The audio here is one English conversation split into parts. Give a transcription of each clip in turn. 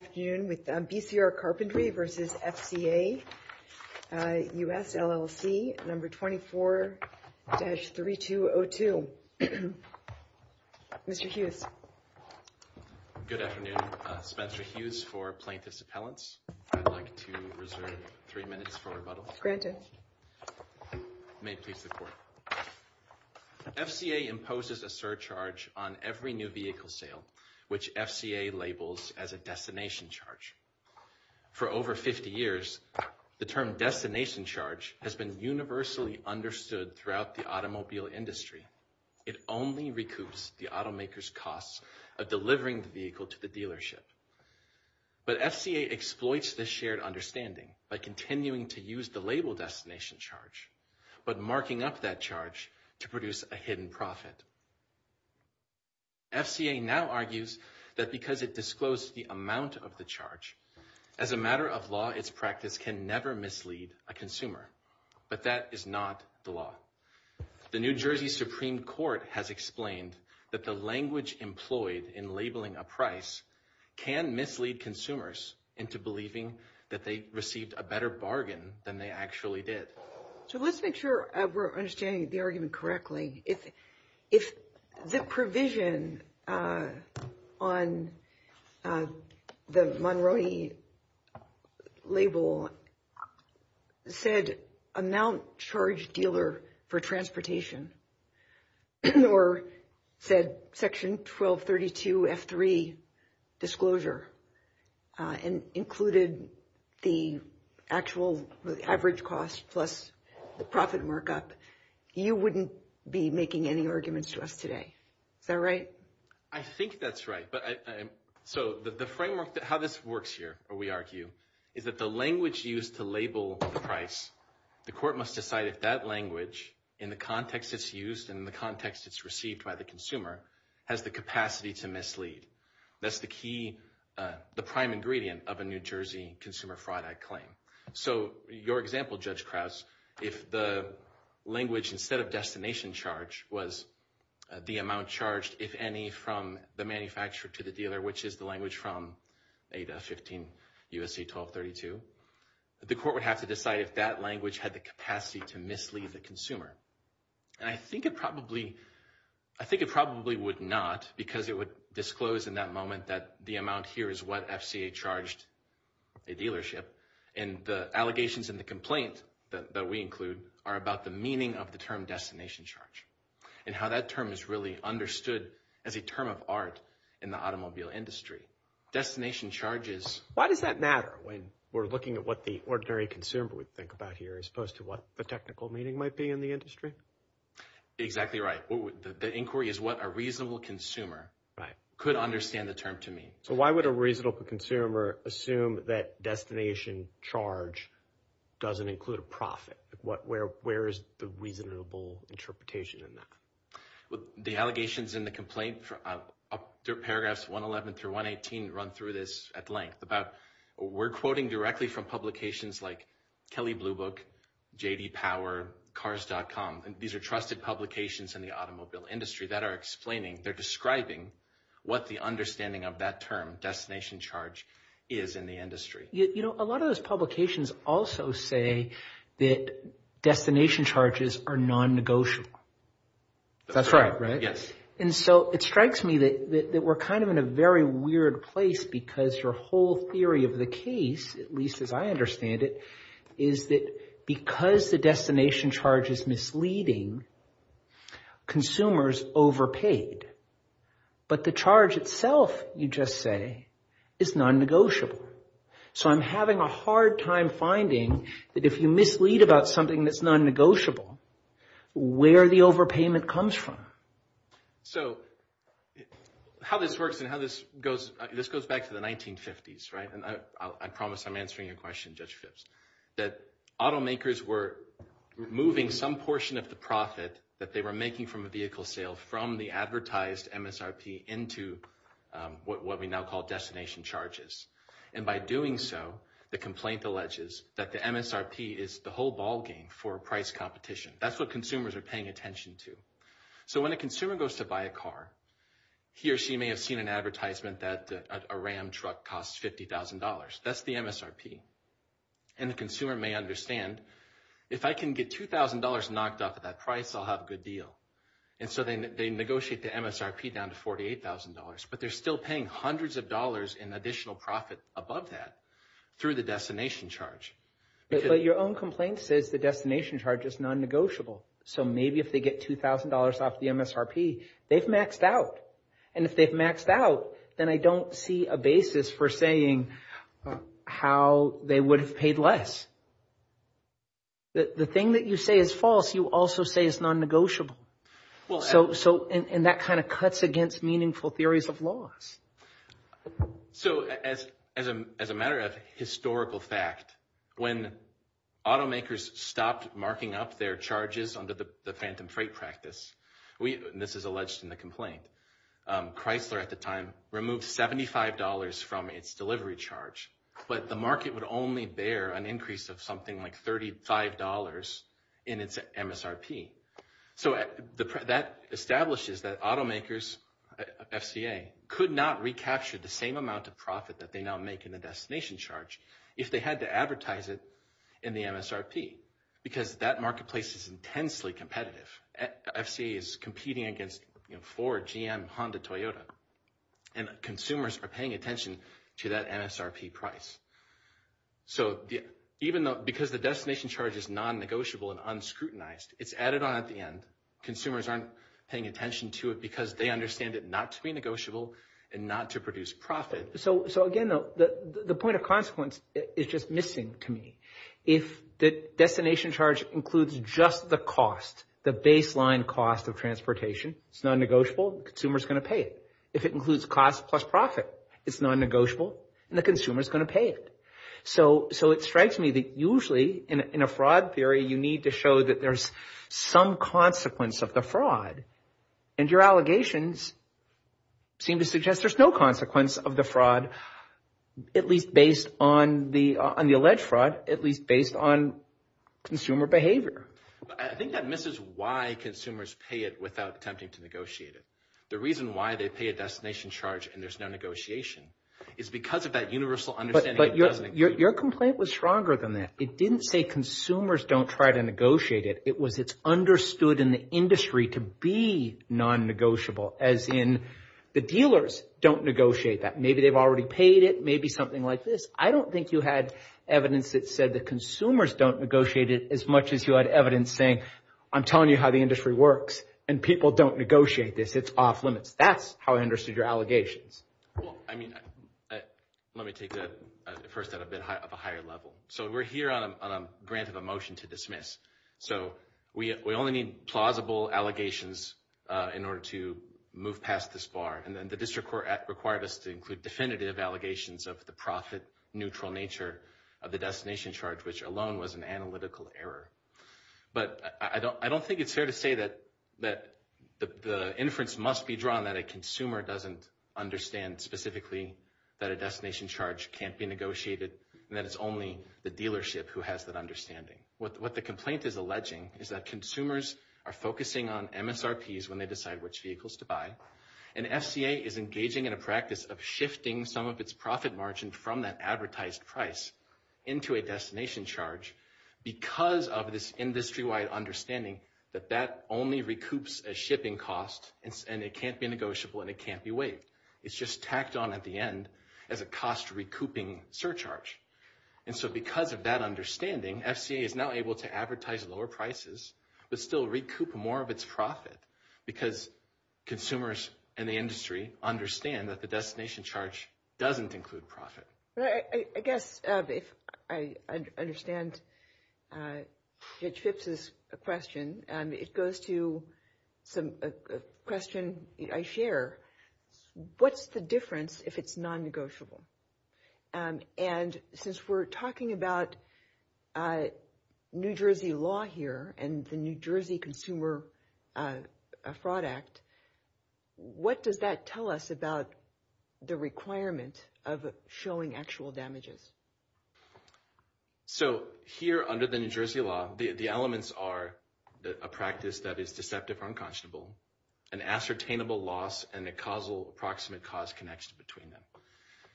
Good afternoon with BCR Carpentry versus FCA US LLC number 24-3202. Mr. Hughes. Good afternoon, Spencer Hughes for plaintiffs appellants. I'd like to reserve three minutes for rebuttal. Granted. May it please the court. FCA imposes a surcharge on every new vehicle sale, which FCA labels as a destination charge. For over 50 years, the term destination charge has been universally understood throughout the automobile industry. It only recoups the automaker's costs of delivering the vehicle to the dealership. But FCA exploits this shared understanding by continuing to use the label destination charge, but marking up that charge to produce a hidden profit. FCA now argues that because it disclosed the amount of the charge as a matter of law, its practice can never mislead a consumer. But that is not the law. The New Jersey Supreme Court has explained that the language employed in labeling a price can mislead consumers into believing that they received a better bargain than they actually did. So let's make sure we're understanding the argument correctly. If the provision on the Monroe label said amount charged dealer for transportation or said Section 1232 F3 disclosure and included the actual average cost plus the profit markup. You wouldn't be making any arguments to us today. Is that right? I think that's right. So the framework, how this works here, we argue, is that the language used to label the price, the court must decide if that language in the context it's used and the context it's received by the consumer has the capacity to mislead. That's the key, the prime ingredient of a New Jersey Consumer Fraud Act claim. So your example, Judge Krause, if the language instead of destination charge was the amount charged, if any, from the manufacturer to the dealer, which is the language from ADA 15 U.S.C. 1232, the court would have to decide if that language had the capacity to mislead the consumer. And I think it probably would not because it would disclose in that moment that the amount here is what FCA charged a dealership. And the allegations and the complaint that we include are about the meaning of the term destination charge and how that term is really understood as a term of art in the automobile industry. Why does that matter when we're looking at what the ordinary consumer would think about here as opposed to what the technical meaning might be in the industry? Exactly right. The inquiry is what a reasonable consumer could understand the term to mean. So why would a reasonable consumer assume that destination charge doesn't include a profit? Where is the reasonable interpretation in that? The allegations in the complaint, paragraphs 111 through 118 run through this at length. We're quoting directly from publications like Kelley Blue Book, J.D. Power, Cars.com. These are trusted publications in the automobile industry that are explaining, they're describing what the understanding of that term, destination charge, is in the industry. A lot of those publications also say that destination charges are non-negotiable. That's right, right? And so it strikes me that we're kind of in a very weird place because your whole theory of the case, at least as I understand it, is that because the destination charge is misleading, consumers overpaid. But the charge itself, you just say, is non-negotiable. So I'm having a hard time finding that if you mislead about something that's non-negotiable, where the overpayment comes from. So how this works and how this goes, this goes back to the 1950s, right? And I promise I'm answering your question, Judge Phipps, that automakers were moving some portion of the profit that they were making from a vehicle sale from the advertised MSRP into what we now call destination charges. And by doing so, the complaint alleges that the MSRP is the whole ballgame for price competition. That's what consumers are paying attention to. So when a consumer goes to buy a car, he or she may have seen an advertisement that a Ram truck costs $50,000. That's the MSRP. And the consumer may understand, if I can get $2,000 knocked off of that price, I'll have a good deal. And so they negotiate the MSRP down to $48,000. But they're still paying hundreds of dollars in additional profit above that through the destination charge. But your own complaint says the destination charge is non-negotiable. So maybe if they get $2,000 off the MSRP, they've maxed out. And if they've maxed out, then I don't see a basis for saying how they would have paid less. The thing that you say is false, you also say is non-negotiable. And that kind of cuts against meaningful theories of laws. So as a matter of historical fact, when automakers stopped marking up their charges under the phantom freight practice, and this is alleged in the complaint, Chrysler at the time removed $75 from its delivery charge. But the market would only bear an increase of something like $35 in its MSRP. So that establishes that automakers, FCA, could not recapture the same amount of profit that they now make in the destination charge if they had to advertise it in the MSRP. Because that marketplace is intensely competitive. FCA is competing against Ford, GM, Honda, Toyota. And consumers are paying attention to that MSRP price. So because the destination charge is non-negotiable and unscrutinized, it's added on at the end. Consumers aren't paying attention to it because they understand it not to be negotiable and not to produce profit. So again, the point of consequence is just missing to me. If the destination charge includes just the cost, the baseline cost of transportation, it's non-negotiable, the consumer is going to pay it. If it includes cost plus profit, it's non-negotiable, and the consumer is going to pay it. So it strikes me that usually in a fraud theory, you need to show that there's some consequence of the fraud. And your allegations seem to suggest there's no consequence of the fraud, at least based on the alleged fraud, at least based on consumer behavior. I think that misses why consumers pay it without attempting to negotiate it. The reason why they pay a destination charge and there's no negotiation is because of that universal understanding. But your complaint was stronger than that. It didn't say consumers don't try to negotiate it. It was it's understood in the industry to be non-negotiable, as in the dealers don't negotiate that. Maybe they've already paid it, maybe something like this. I don't think you had evidence that said that consumers don't negotiate it as much as you had evidence saying, I'm telling you how the industry works and people don't negotiate this. It's off limits. That's how I understood your allegations. Well, I mean, let me take that first at a bit of a higher level. So we're here on a grant of a motion to dismiss. So we only need plausible allegations in order to move past this bar. And then the district court required us to include definitive allegations of the profit neutral nature of the destination charge, which alone was an analytical error. But I don't think it's fair to say that the inference must be drawn that a consumer doesn't understand specifically that a destination charge can't be negotiated and that it's only the dealership who has that understanding. What the complaint is alleging is that consumers are focusing on MSRPs when they decide which vehicles to buy and FCA is engaging in a practice of shifting some of its profit margin from that advertised price into a destination charge because of this industry-wide understanding that that only recoups a shipping cost, and it can't be negotiable, and it can't be waived. It's just tacked on at the end as a cost-recouping surcharge. And so because of that understanding, FCA is now able to advertise lower prices but still recoup more of its profit because consumers and the industry understand that the destination charge doesn't include profit. I guess if I understand Judge Phipps' question, it goes to a question I share. What's the difference if it's non-negotiable? And since we're talking about New Jersey law here and the New Jersey Consumer Fraud Act, what does that tell us about the requirement of showing actual damages? So here under the New Jersey law, the elements are a practice that is deceptive or unconscionable, an ascertainable loss, and a causal approximate cause connection between them.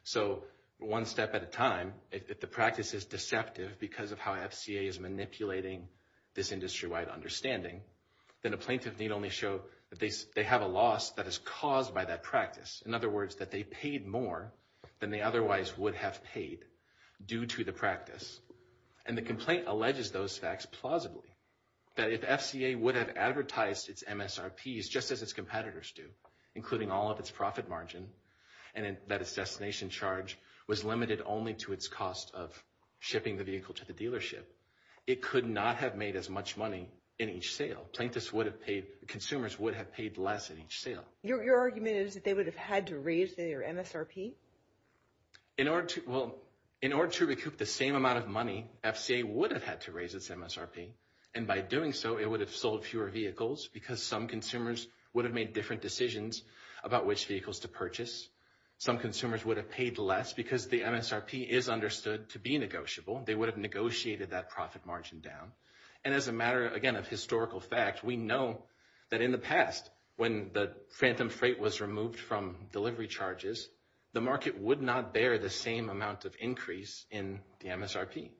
So one step at a time, if the practice is deceptive because of how FCA is manipulating this industry-wide understanding, then a plaintiff need only show that they have a loss that is caused by that practice. In other words, that they paid more than they otherwise would have paid due to the practice. And the complaint alleges those facts plausibly. That if FCA would have advertised its MSRPs just as its competitors do, including all of its profit margin, and that its destination charge was limited only to its cost of shipping the vehicle to the dealership, it could not have made as much money in each sale. Consumers would have paid less in each sale. Your argument is that they would have had to raise their MSRP? Well, in order to recoup the same amount of money, FCA would have had to raise its MSRP. And by doing so, it would have sold fewer vehicles because some consumers would have made different decisions about which vehicles to purchase. Some consumers would have paid less because the MSRP is understood to be negotiable. They would have negotiated that profit margin down. And as a matter, again, of historical fact, we know that in the past, when the phantom freight was removed from delivery charges, the market would not bear the same amount of increase in the MSRP.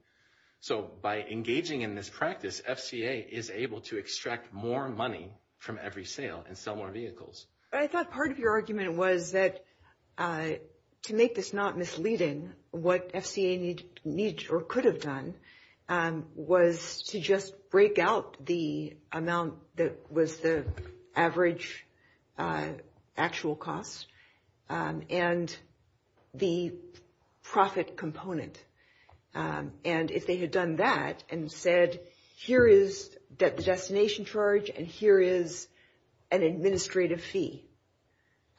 So by engaging in this practice, FCA is able to extract more money from every sale and sell more vehicles. I thought part of your argument was that to make this not misleading, what FCA could have done was to just break out the amount that was the average actual cost and the profit component. And if they had done that and said, here is the destination charge and here is an administrative fee,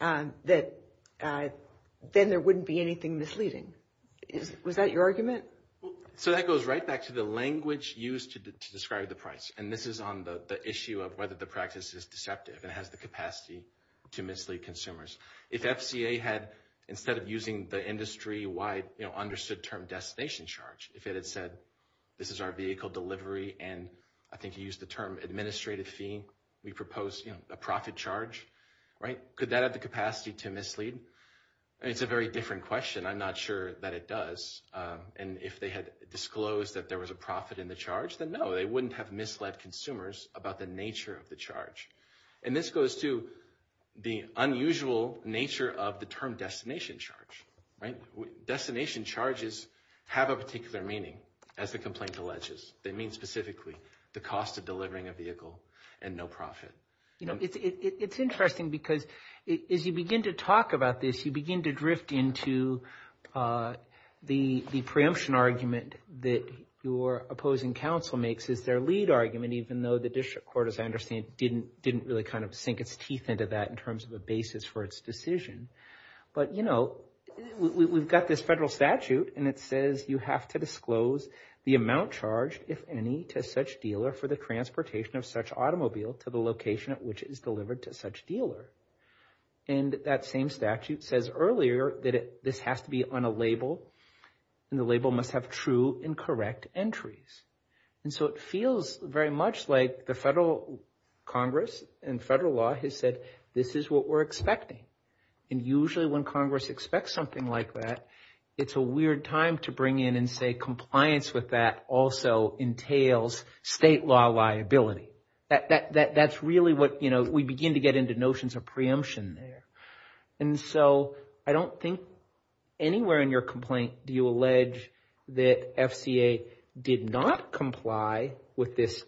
then there wouldn't be anything misleading. Was that your argument? So that goes right back to the language used to describe the price. And this is on the issue of whether the practice is deceptive and has the capacity to mislead consumers. If FCA had, instead of using the industry-wide understood term destination charge, if it had said, this is our vehicle delivery, and I think you used the term administrative fee, we propose a profit charge, could that have the capacity to mislead? It's a very different question. I'm not sure that it does. And if they had disclosed that there was a profit in the charge, then no, they wouldn't have misled consumers about the nature of the charge. And this goes to the unusual nature of the term destination charge. Destination charges have a particular meaning, as the complaint alleges. They mean specifically the cost of delivering a vehicle and no profit. It's interesting because as you begin to talk about this, you begin to drift into the preemption argument that your opposing counsel makes is their lead argument, even though the district court, as I understand, didn't really kind of sink its teeth into that in terms of a basis for its decision. But, you know, we've got this federal statute, and it says you have to disclose the amount charged, if any, to such dealer for the transportation of such automobile to the location at which it is delivered to such dealer. And that same statute says earlier that this has to be on a label, and the label must have true and correct entries. And so it feels very much like the federal Congress and federal law has said this is what we're expecting. And usually when Congress expects something like that, it's a weird time to bring in and say compliance with that also entails state law liability. That's really what, you know, we begin to get into notions of preemption there. And so I don't think anywhere in your complaint do you allege that FCA did not comply with this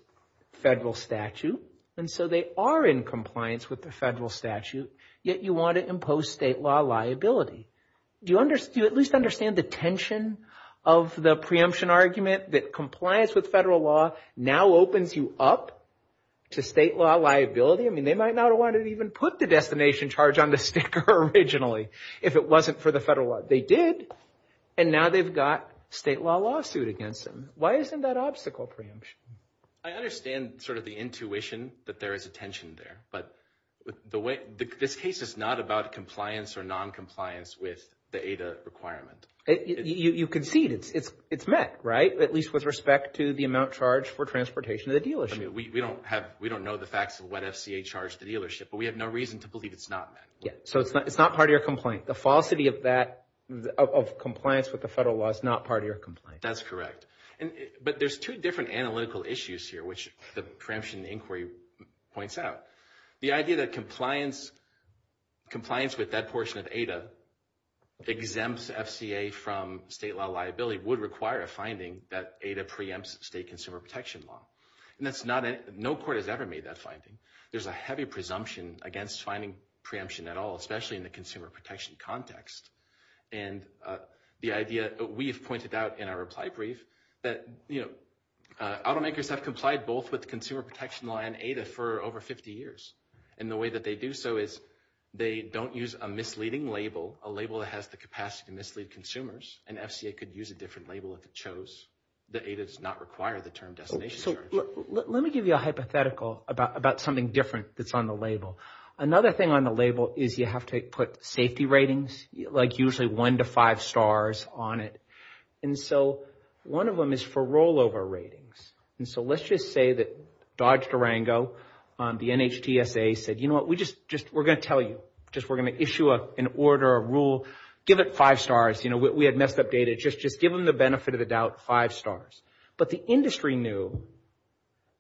federal statute. And so they are in compliance with the federal statute, yet you want to impose state law liability. Do you at least understand the tension of the preemption argument that compliance with federal law now opens you up to state law liability? I mean, they might not have wanted to even put the destination charge on the sticker originally if it wasn't for the federal law. They did, and now they've got state law lawsuit against them. Why isn't that obstacle preemption? I understand sort of the intuition that there is a tension there, but this case is not about compliance or noncompliance with the ADA requirement. You concede it's met, right, at least with respect to the amount charged for transportation of the dealership. I mean, we don't know the facts of what FCA charged the dealership, but we have no reason to believe it's not met. Yeah, so it's not part of your complaint. The falsity of compliance with the federal law is not part of your complaint. That's correct. But there's two different analytical issues here, which the preemption inquiry points out. The idea that compliance with that portion of ADA exempts FCA from state law liability would require a finding that ADA preempts state consumer protection law. No court has ever made that finding. There's a heavy presumption against finding preemption at all, especially in the consumer protection context. And the idea we've pointed out in our reply brief that automakers have complied both with consumer protection law and ADA for over 50 years. And the way that they do so is they don't use a misleading label, a label that has the capacity to mislead consumers, and FCA could use a different label if it chose that ADA does not require the term destination charge. Let me give you a hypothetical about something different that's on the label. Another thing on the label is you have to put safety ratings, like usually one to five stars on it. And so one of them is for rollover ratings. And so let's just say that Dodge Durango, the NHTSA, said, you know what, we're going to tell you. We're going to issue an order, a rule. Give it five stars. We had messed up data. Just give them the benefit of the doubt, five stars. But the industry knew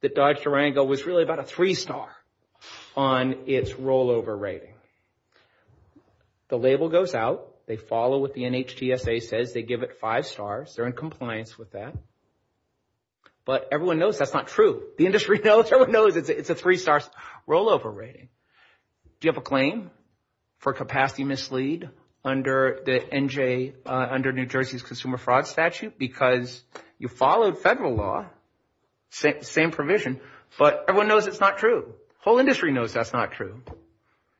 that Dodge Durango was really about a three star on its rollover rating. The label goes out. They follow what the NHTSA says. They give it five stars. They're in compliance with that. But everyone knows that's not true. The industry knows. Everyone knows it's a three star rollover rating. Do you have a claim for capacity mislead under the NJ, under New Jersey's consumer fraud statute? Because you followed federal law, same provision, but everyone knows it's not true. The whole industry knows that's not true.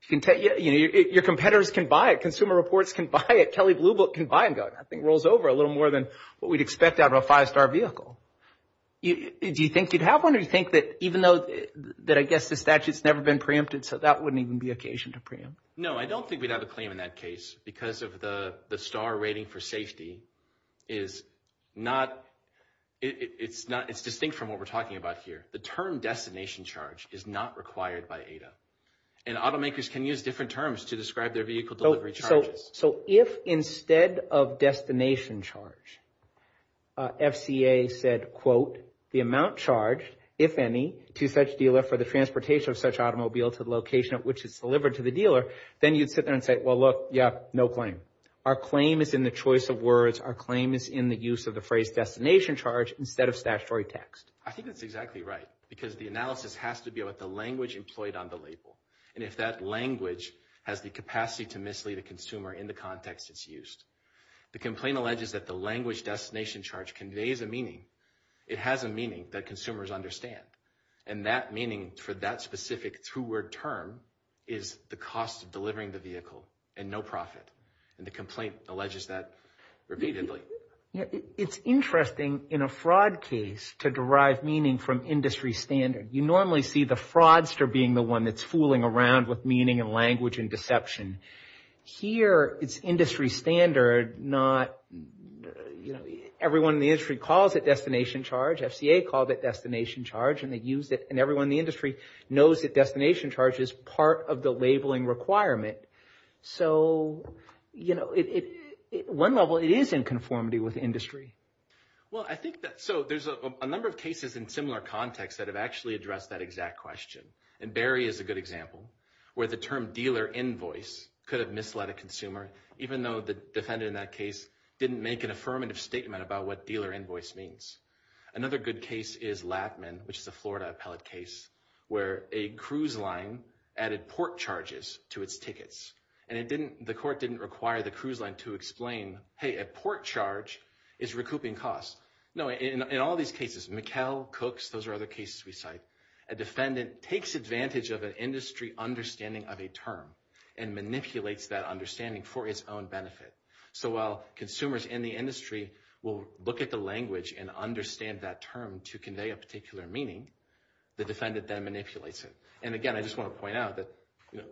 Your competitors can buy it. Consumer Reports can buy it. Kelly Blue Book can buy it. I think it rolls over a little more than what we'd expect out of a five star vehicle. Do you think you'd have one or do you think that even though that I guess the statute's never been preempted, so that wouldn't even be occasion to preempt? No, I don't think we'd have a claim in that case because of the star rating for safety is not, it's distinct from what we're talking about here. The term destination charge is not required by ADA. And automakers can use different terms to describe their vehicle delivery charges. So if instead of destination charge, FCA said, quote, the amount charged, if any, to such dealer for the transportation of such automobile to the location at which it's delivered to the dealer, then you'd sit there and say, well, look, yeah, no claim. Our claim is in the choice of words. Our claim is in the use of the phrase destination charge instead of statutory text. I think that's exactly right because the analysis has to be about the language employed on the label. And if that language has the capacity to mislead a consumer in the context it's used. The complaint alleges that the language destination charge conveys a meaning. It has a meaning that consumers understand. And that meaning for that specific two-word term is the cost of delivering the vehicle and no profit. And the complaint alleges that repeatedly. It's interesting in a fraud case to derive meaning from industry standard. You normally see the fraudster being the one that's fooling around with meaning and language and deception. Here it's industry standard, not, you know, everyone in the industry calls it destination charge. FCA called it destination charge and they used it. And everyone in the industry knows that destination charge is part of the labeling requirement. So, you know, at one level it is in conformity with industry. Well, I think that so there's a number of cases in similar context that have actually addressed that exact question. And Barry is a good example where the term dealer invoice could have misled a consumer, even though the defendant in that case didn't make an affirmative statement about what dealer invoice means. Another good case is Latman, which is a Florida appellate case, where a cruise line added port charges to its tickets. And it didn't, the court didn't require the cruise line to explain, hey, a port charge is recouping costs. No, in all these cases, McHale, Cooks, those are other cases we cite, a defendant takes advantage of an industry understanding of a term and manipulates that understanding for its own benefit. So while consumers in the industry will look at the language and understand that term to convey a particular meaning, the defendant then manipulates it. And again, I just want to point out that, you know,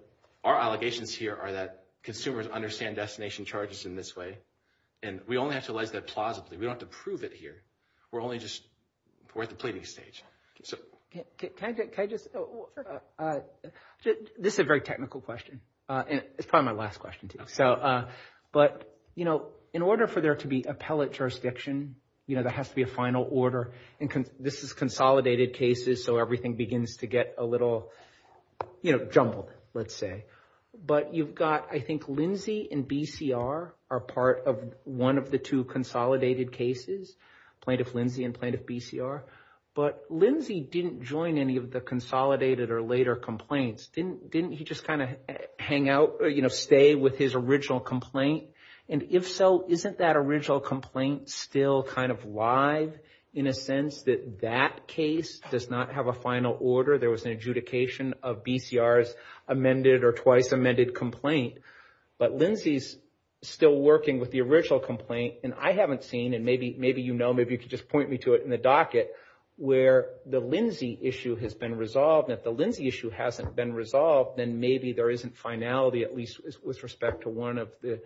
our allegations here are that consumers understand destination charges in this way. And we only have to realize that plausibly. We don't have to prove it here. We're only just, we're at the pleading stage. Can I just, this is a very technical question. And it's probably my last question, too. But, you know, in order for there to be appellate jurisdiction, you know, there has to be a final order. And this is consolidated cases, so everything begins to get a little, you know, jumbled, let's say. But you've got, I think, Lindsay and BCR are part of one of the two consolidated cases, Plaintiff Lindsay and Plaintiff BCR. But Lindsay didn't join any of the consolidated or later complaints. Didn't he just kind of hang out, you know, stay with his original complaint? And if so, isn't that original complaint still kind of live in a sense that that case does not have a final order? There was an adjudication of BCR's amended or twice amended complaint. But Lindsay's still working with the original complaint. And I haven't seen, and maybe you know, maybe you could just point me to it in the docket, where the Lindsay issue has been resolved. And if the Lindsay issue hasn't been resolved, then maybe there isn't finality, at least with respect to one of the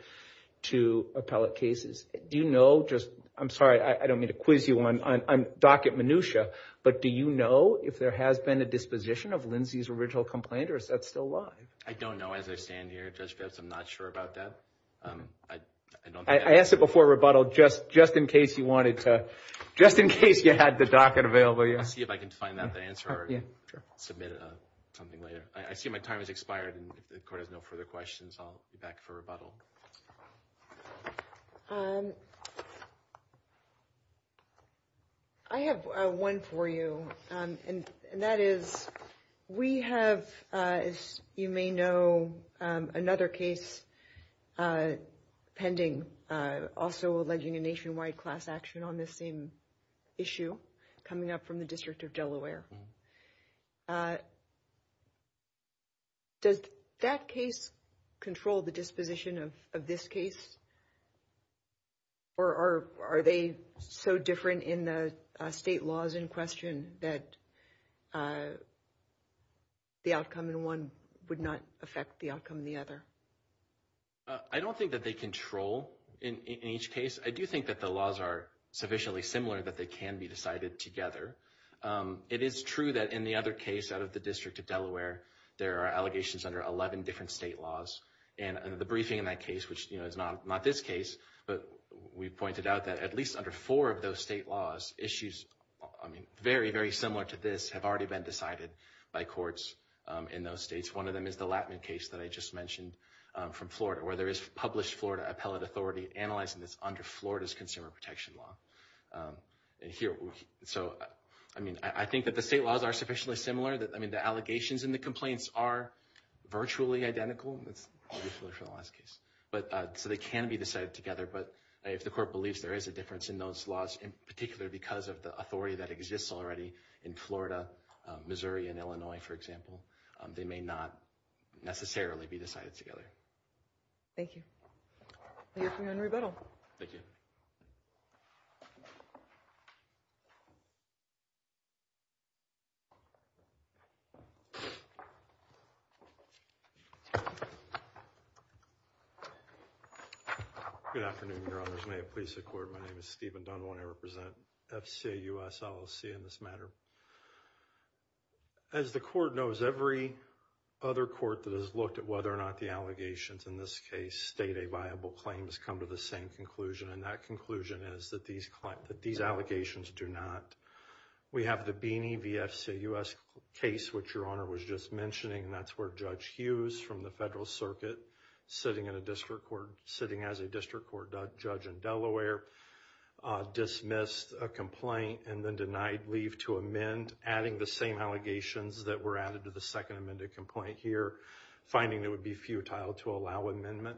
two appellate cases. Do you know, just, I'm sorry, I don't mean to quiz you on docket minutiae. But do you know if there has been a disposition of Lindsay's original complaint? Or is that still live? I don't know as I stand here, Judge Bibbs. I'm not sure about that. I asked it before rebuttal, just in case you wanted to, just in case you had the docket available. I'll see if I can find out the answer or submit something later. I see my time has expired and the court has no further questions. I'll be back for rebuttal. I have one for you. And that is, we have, as you may know, another case pending, also alleging a nationwide class action on this same issue coming up from the District of Delaware. Does that case control the disposition of this case? Or are they so different in the state laws in question that the outcome in one would not affect the outcome in the other? I don't think that they control in each case. I do think that the laws are sufficiently similar that they can be decided together. It is true that in the other case out of the District of Delaware, there are allegations under 11 different state laws. And the briefing in that case, which is not this case, but we pointed out that at least under four of those state laws, issues very, very similar to this have already been decided by courts in those states. One of them is the Latman case that I just mentioned from Florida, where there is published Florida appellate authority analyzing this under Florida's consumer protection law. So, I mean, I think that the state laws are sufficiently similar. I mean, the allegations and the complaints are virtually identical. That's usually for the last case. So they can be decided together. But if the court believes there is a difference in those laws, in particular because of the authority that exists already in Florida, Missouri, and Illinois, for example, they may not necessarily be decided together. Thank you. Henry Biddle. Thank you. Good afternoon, Your Honors. May it please the Court. My name is Stephen Dunlap. I represent FCA US LLC in this matter. As the Court knows, every other court that has looked at whether or not the allegations in this case state a viable claim has come to the same conclusion, and that conclusion is that these allegations do not. We have the Beeney v. FCA US case, which Your Honor was just mentioning. That's where Judge Hughes from the Federal Circuit, sitting in a district court, sitting as a district court judge in Delaware, dismissed a complaint and then denied leave to amend, adding the same allegations that were added to the second amended complaint here, finding it would be futile to allow amendment.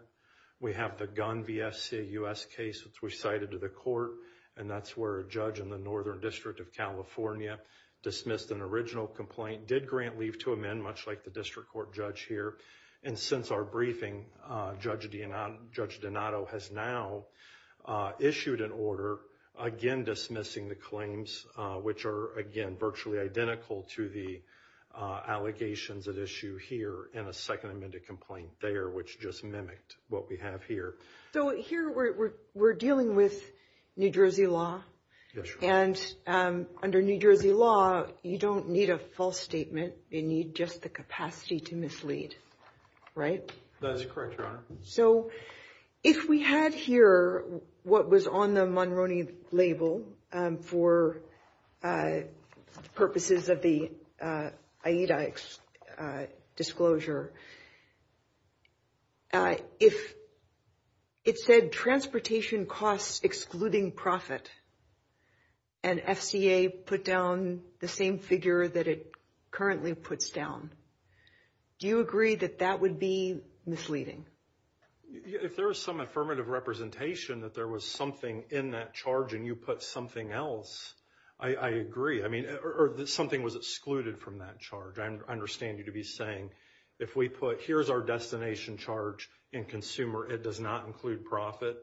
We have the Gunn v. FCA US case, which we cited to the Court, and that's where a judge in the Northern District of California dismissed an original complaint, did grant leave to amend, much like the district court judge here. And since our briefing, Judge Donato has now issued an order, again dismissing the claims, which are again virtually identical to the allegations at issue here in a second amended complaint there, which just mimicked what we have here. So here we're dealing with New Jersey law, and under New Jersey law, you don't need a false statement. You need just the capacity to mislead, right? That is correct, Your Honor. So if we had here what was on the Monroney label for purposes of the AIDA disclosure, if it said transportation costs excluding profit, and FCA put down the same figure that it currently puts down, do you agree that that would be misleading? If there is some affirmative representation that there was something in that charge and you put something else, I agree. I mean, or something was excluded from that charge. I understand you to be saying, if we put here's our destination charge in consumer, it does not include profit,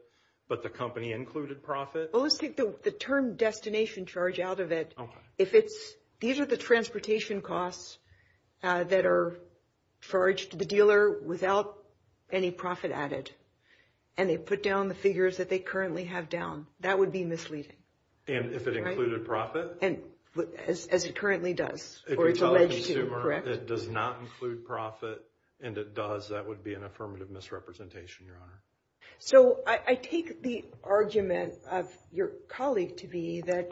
but the company included profit? Well, let's take the term destination charge out of it. If it's, these are the transportation costs that are charged to the dealer without any profit added, and they put down the figures that they currently have down, that would be misleading. And if it included profit? As it currently does, or it's alleged to, correct? If you tell a consumer it does not include profit and it does, that would be an affirmative misrepresentation, Your Honor. So, I take the argument of your colleague to be that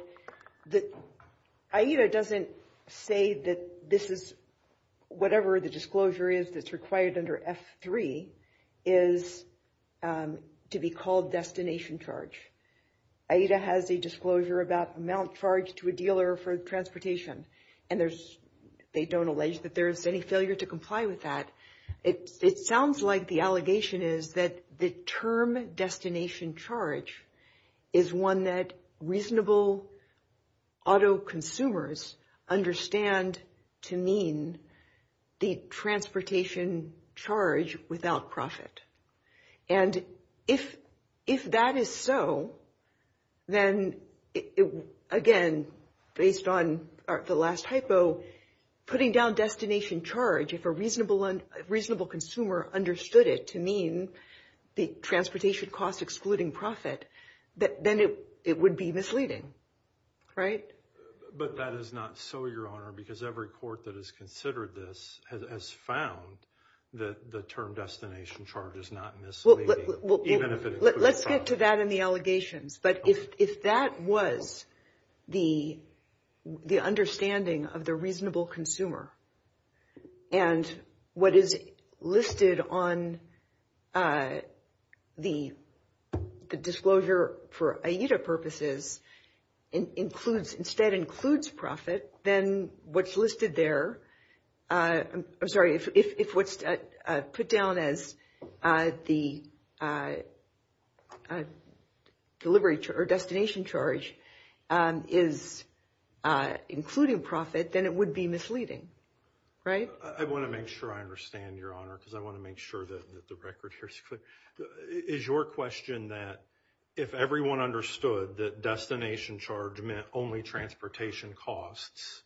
AIDA doesn't say that this is, whatever the disclosure is that's required under F3, is to be called destination charge. AIDA has a disclosure about amount charged to a dealer for transportation, and there's, they don't allege that there's any failure to comply with that. It sounds like the allegation is that the term destination charge is one that reasonable auto consumers understand to mean the transportation charge without profit. And if that is so, then again, based on the last hypo, putting down destination charge, if a reasonable consumer understood it to mean the transportation costs excluding profit, then it would be misleading, right? But that is not so, Your Honor, because every court that has considered this has found that the term destination charge is not misleading, even if it includes profit. Let's get to that and the allegations, but if that was the understanding of the reasonable consumer, and what is listed on the disclosure for AIDA purposes, instead includes profit, then what's listed there, I'm sorry, if what's put down as the delivery or destination charge is including profit, then it would be misleading, right? I want to make sure I understand, Your Honor, because I want to make sure that the record here is clear. Is your question that if everyone understood that destination charge meant only transportation costs,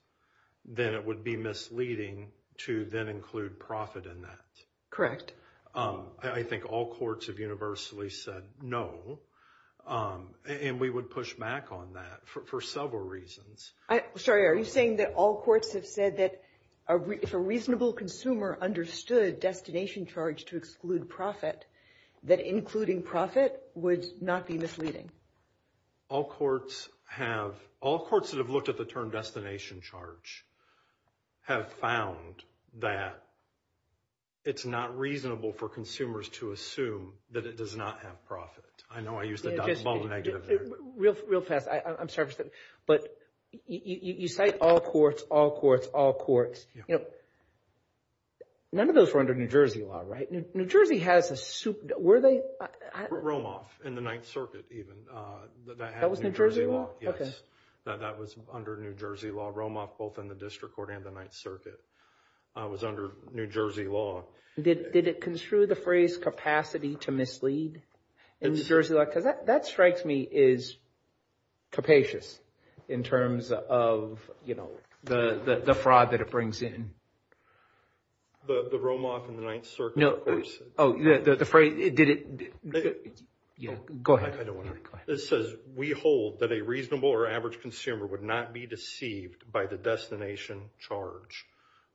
then it would be misleading to then include profit in that? Correct. I think all courts have universally said no, and we would push back on that for several reasons. Sorry, are you saying that all courts have said that if a reasonable consumer understood destination charge to exclude profit, that including profit would not be misleading? All courts have, all courts that have looked at the term destination charge have found that it's not reasonable for consumers to assume that it does not have profit. I know I used a double negative there. Real fast, I'm sorry, but you cite all courts, all courts, all courts. None of those were under New Jersey law, right? New Jersey has a super, were they? Romoff in the Ninth Circuit even. That was New Jersey law? Yes. That was under New Jersey law. Romoff both in the District Court and the Ninth Circuit was under New Jersey law. Did it construe the phrase capacity to mislead in New Jersey law? Because that strikes me as capacious in terms of, you know, the fraud that it brings in. The Romoff in the Ninth Circuit, of course. Oh, the phrase, did it, go ahead. It says we hold that a reasonable or average consumer would not be deceived by the destination charge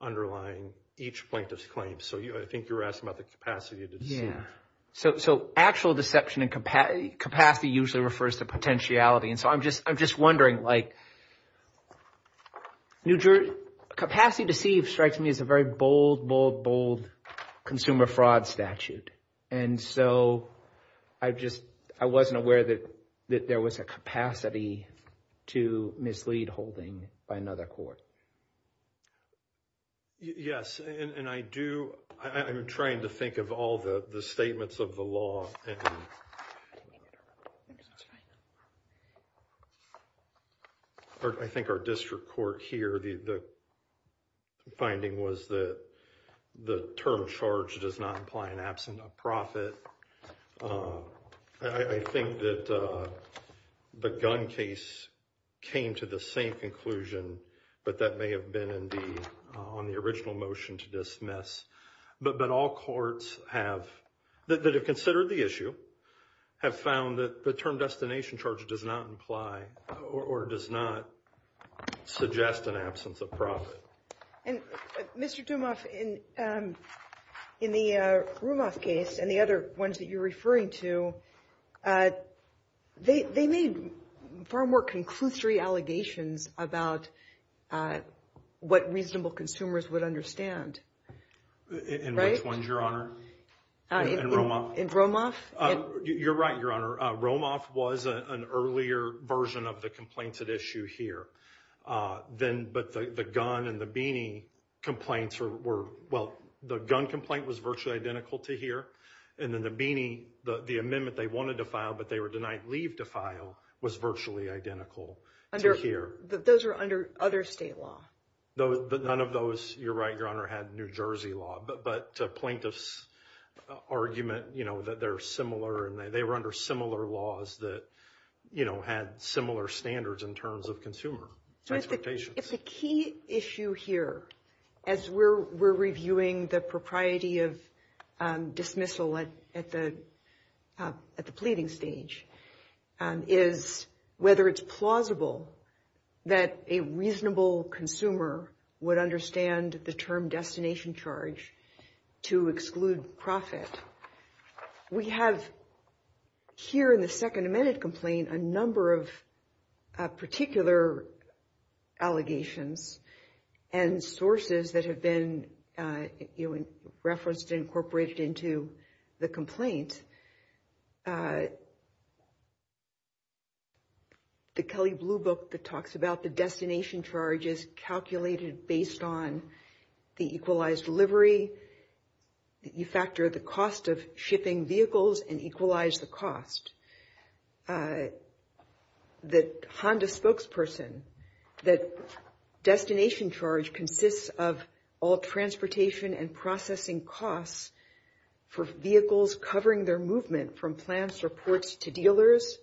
underlying each plaintiff's claim. So I think you're asking about the capacity to deceive. So actual deception and capacity usually refers to potentiality. And so I'm just wondering, like, New Jersey, capacity to deceive strikes me as a very bold, bold, bold consumer fraud statute. And so I just, I wasn't aware that there was a capacity to mislead holding by another court. Yes, and I do, I'm trying to think of all the statements of the law. And I think our district court here, the finding was that the term charge does not imply an absent of profit. I think that the gun case came to the same conclusion, but that may have been on the original motion to dismiss. But all courts have, that have considered the issue, have found that the term destination charge does not imply or does not suggest an absence of profit. And Mr. Dumoff, in the Romoff case and the other ones that you're referring to, they made far more conclusory allegations about what reasonable consumers would understand. In which ones, Your Honor? In Romoff. In Romoff. You're right, Your Honor. Romoff was an earlier version of the complaint at issue here. But the gun and the beanie complaints were, well, the gun complaint was virtually identical to here. And then the beanie, the amendment they wanted to file but they were denied leave to file, was virtually identical to here. Those are under other state law. None of those, you're right, Your Honor, had New Jersey law. But plaintiff's argument, you know, that they're similar and they were under similar laws that, you know, had similar standards in terms of consumer expectations. If the key issue here, as we're reviewing the propriety of dismissal at the pleading stage, is whether it's plausible that a reasonable consumer would understand the term destination charge to exclude profit. We have here in the Second Amendment complaint a number of particular allegations and sources that have been referenced and incorporated into the complaint. And the Kelly Blue Book that talks about the destination charges calculated based on the equalized delivery. You factor the cost of shipping vehicles and equalize the cost. The Honda spokesperson, that destination charge consists of all transportation and processing costs for vehicles covering their movement from plants or ports to dealers.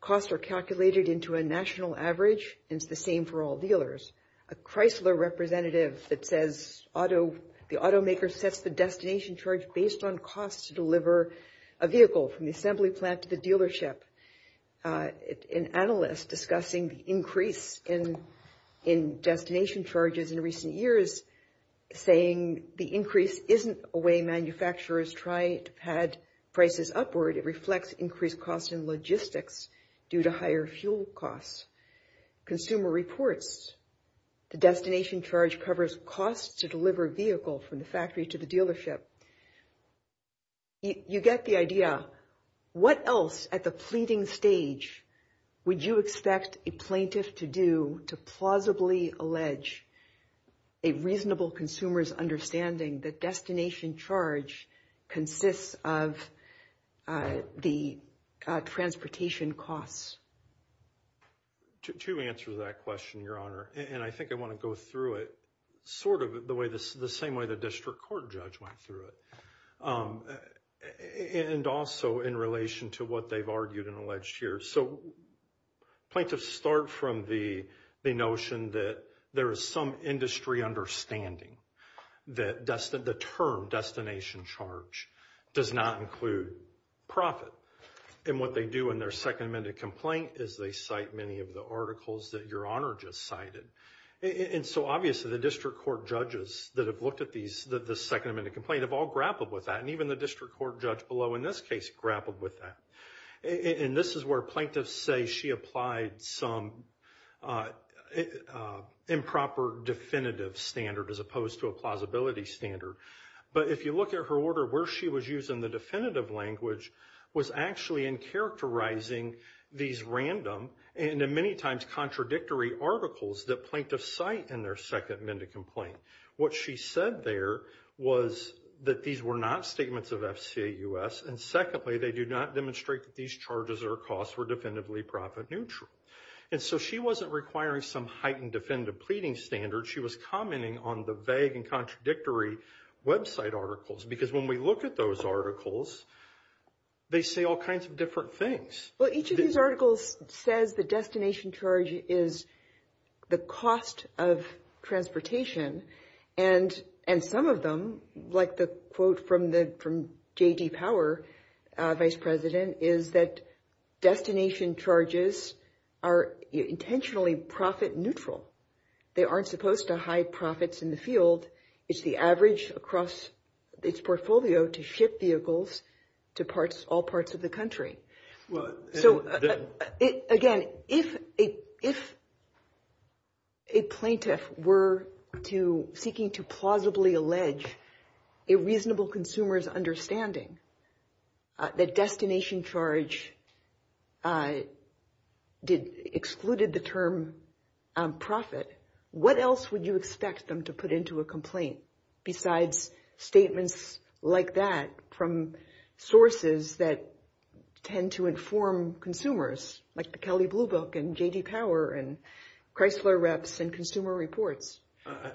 Costs are calculated into a national average. It's the same for all dealers. A Chrysler representative that says the automaker sets the destination charge based on costs to deliver a vehicle from the assembly plant to the dealership. An analyst discussing the increase in destination charges in recent years saying the increase isn't a way manufacturers try to pad prices upward. It reflects increased costs in logistics due to higher fuel costs. Consumer reports, the destination charge covers costs to deliver a vehicle from the factory to the dealership. You get the idea. What else at the pleading stage would you expect a plaintiff to do to plausibly allege a reasonable consumer's understanding that destination charge consists of the transportation costs? Two answers to that question, Your Honor. And I think I want to go through it sort of the same way the district court judge went through it. And also in relation to what they've argued and alleged here. So plaintiffs start from the notion that there is some industry understanding that the term destination charge does not include profit. And what they do in their Second Amendment complaint is they cite many of the articles that Your Honor just cited. And so obviously the district court judges that have looked at the Second Amendment complaint have all grappled with that. And even the district court judge below in this case grappled with that. And this is where plaintiffs say she applied some improper definitive standard as opposed to a plausibility standard. But if you look at her order where she was using the definitive language was actually in characterizing these random and in many times contradictory articles that plaintiffs cite in their Second Amendment complaint. What she said there was that these were not statements of FCA U.S. And secondly, they do not demonstrate that these charges or costs were definitively profit neutral. And so she wasn't requiring some heightened definitive pleading standard. She was commenting on the vague and contradictory website articles. Because when we look at those articles, they say all kinds of different things. Well, each of these articles says the destination charge is the cost of transportation. And and some of them, like the quote from the from J.D. Power, Vice President, is that destination charges are intentionally profit neutral. They aren't supposed to hide profits in the field. It's the average across its portfolio to ship vehicles to parts all parts of the country. Well, so, again, if if. A plaintiff were to seeking to plausibly allege a reasonable consumer's understanding. The destination charge did excluded the term profit. What else would you expect them to put into a complaint besides statements like that from sources that tend to inform consumers like the Kelly Blue Book and J.D. Power and Chrysler Reps and Consumer Reports?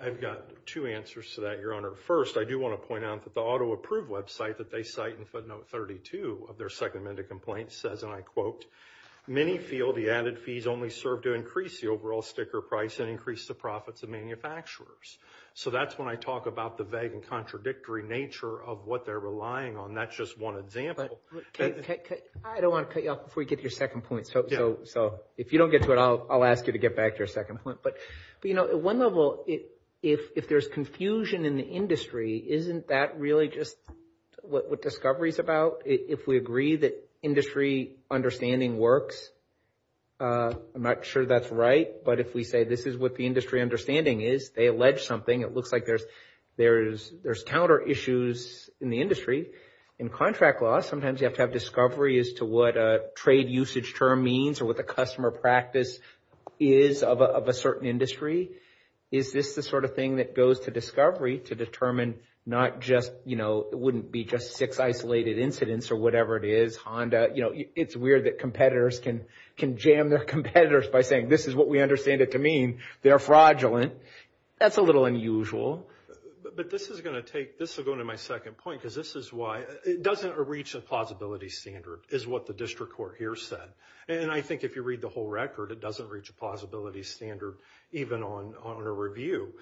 I've got two answers to that, Your Honor. First, I do want to point out that the auto approved website that they cite in footnote 32 of their Second Amendment complaint says, and I quote, Many feel the added fees only serve to increase the overall sticker price and increase the profits of manufacturers. So that's when I talk about the vague and contradictory nature of what they're relying on. That's just one example. I don't want to cut you off before you get your second point. So so if you don't get to it, I'll I'll ask you to get back to your second point. But, you know, at one level, if if there's confusion in the industry, isn't that really just what discovery is about? If we agree that industry understanding works, I'm not sure that's right. But if we say this is what the industry understanding is, they allege something. It looks like there's there is there's counter issues in the industry. In contract law, sometimes you have to have discovery as to what a trade usage term means or what the customer practice is of a certain industry. Is this the sort of thing that goes to discovery to determine not just, you know, it wouldn't be just six isolated incidents or whatever it is. Honda, you know, it's weird that competitors can can jam their competitors by saying this is what we understand it to mean. They're fraudulent. That's a little unusual. But this is going to take this ago to my second point, because this is why it doesn't reach a plausibility standard is what the district court here said. And I think if you read the whole record, it doesn't reach a plausibility standard even on on a review.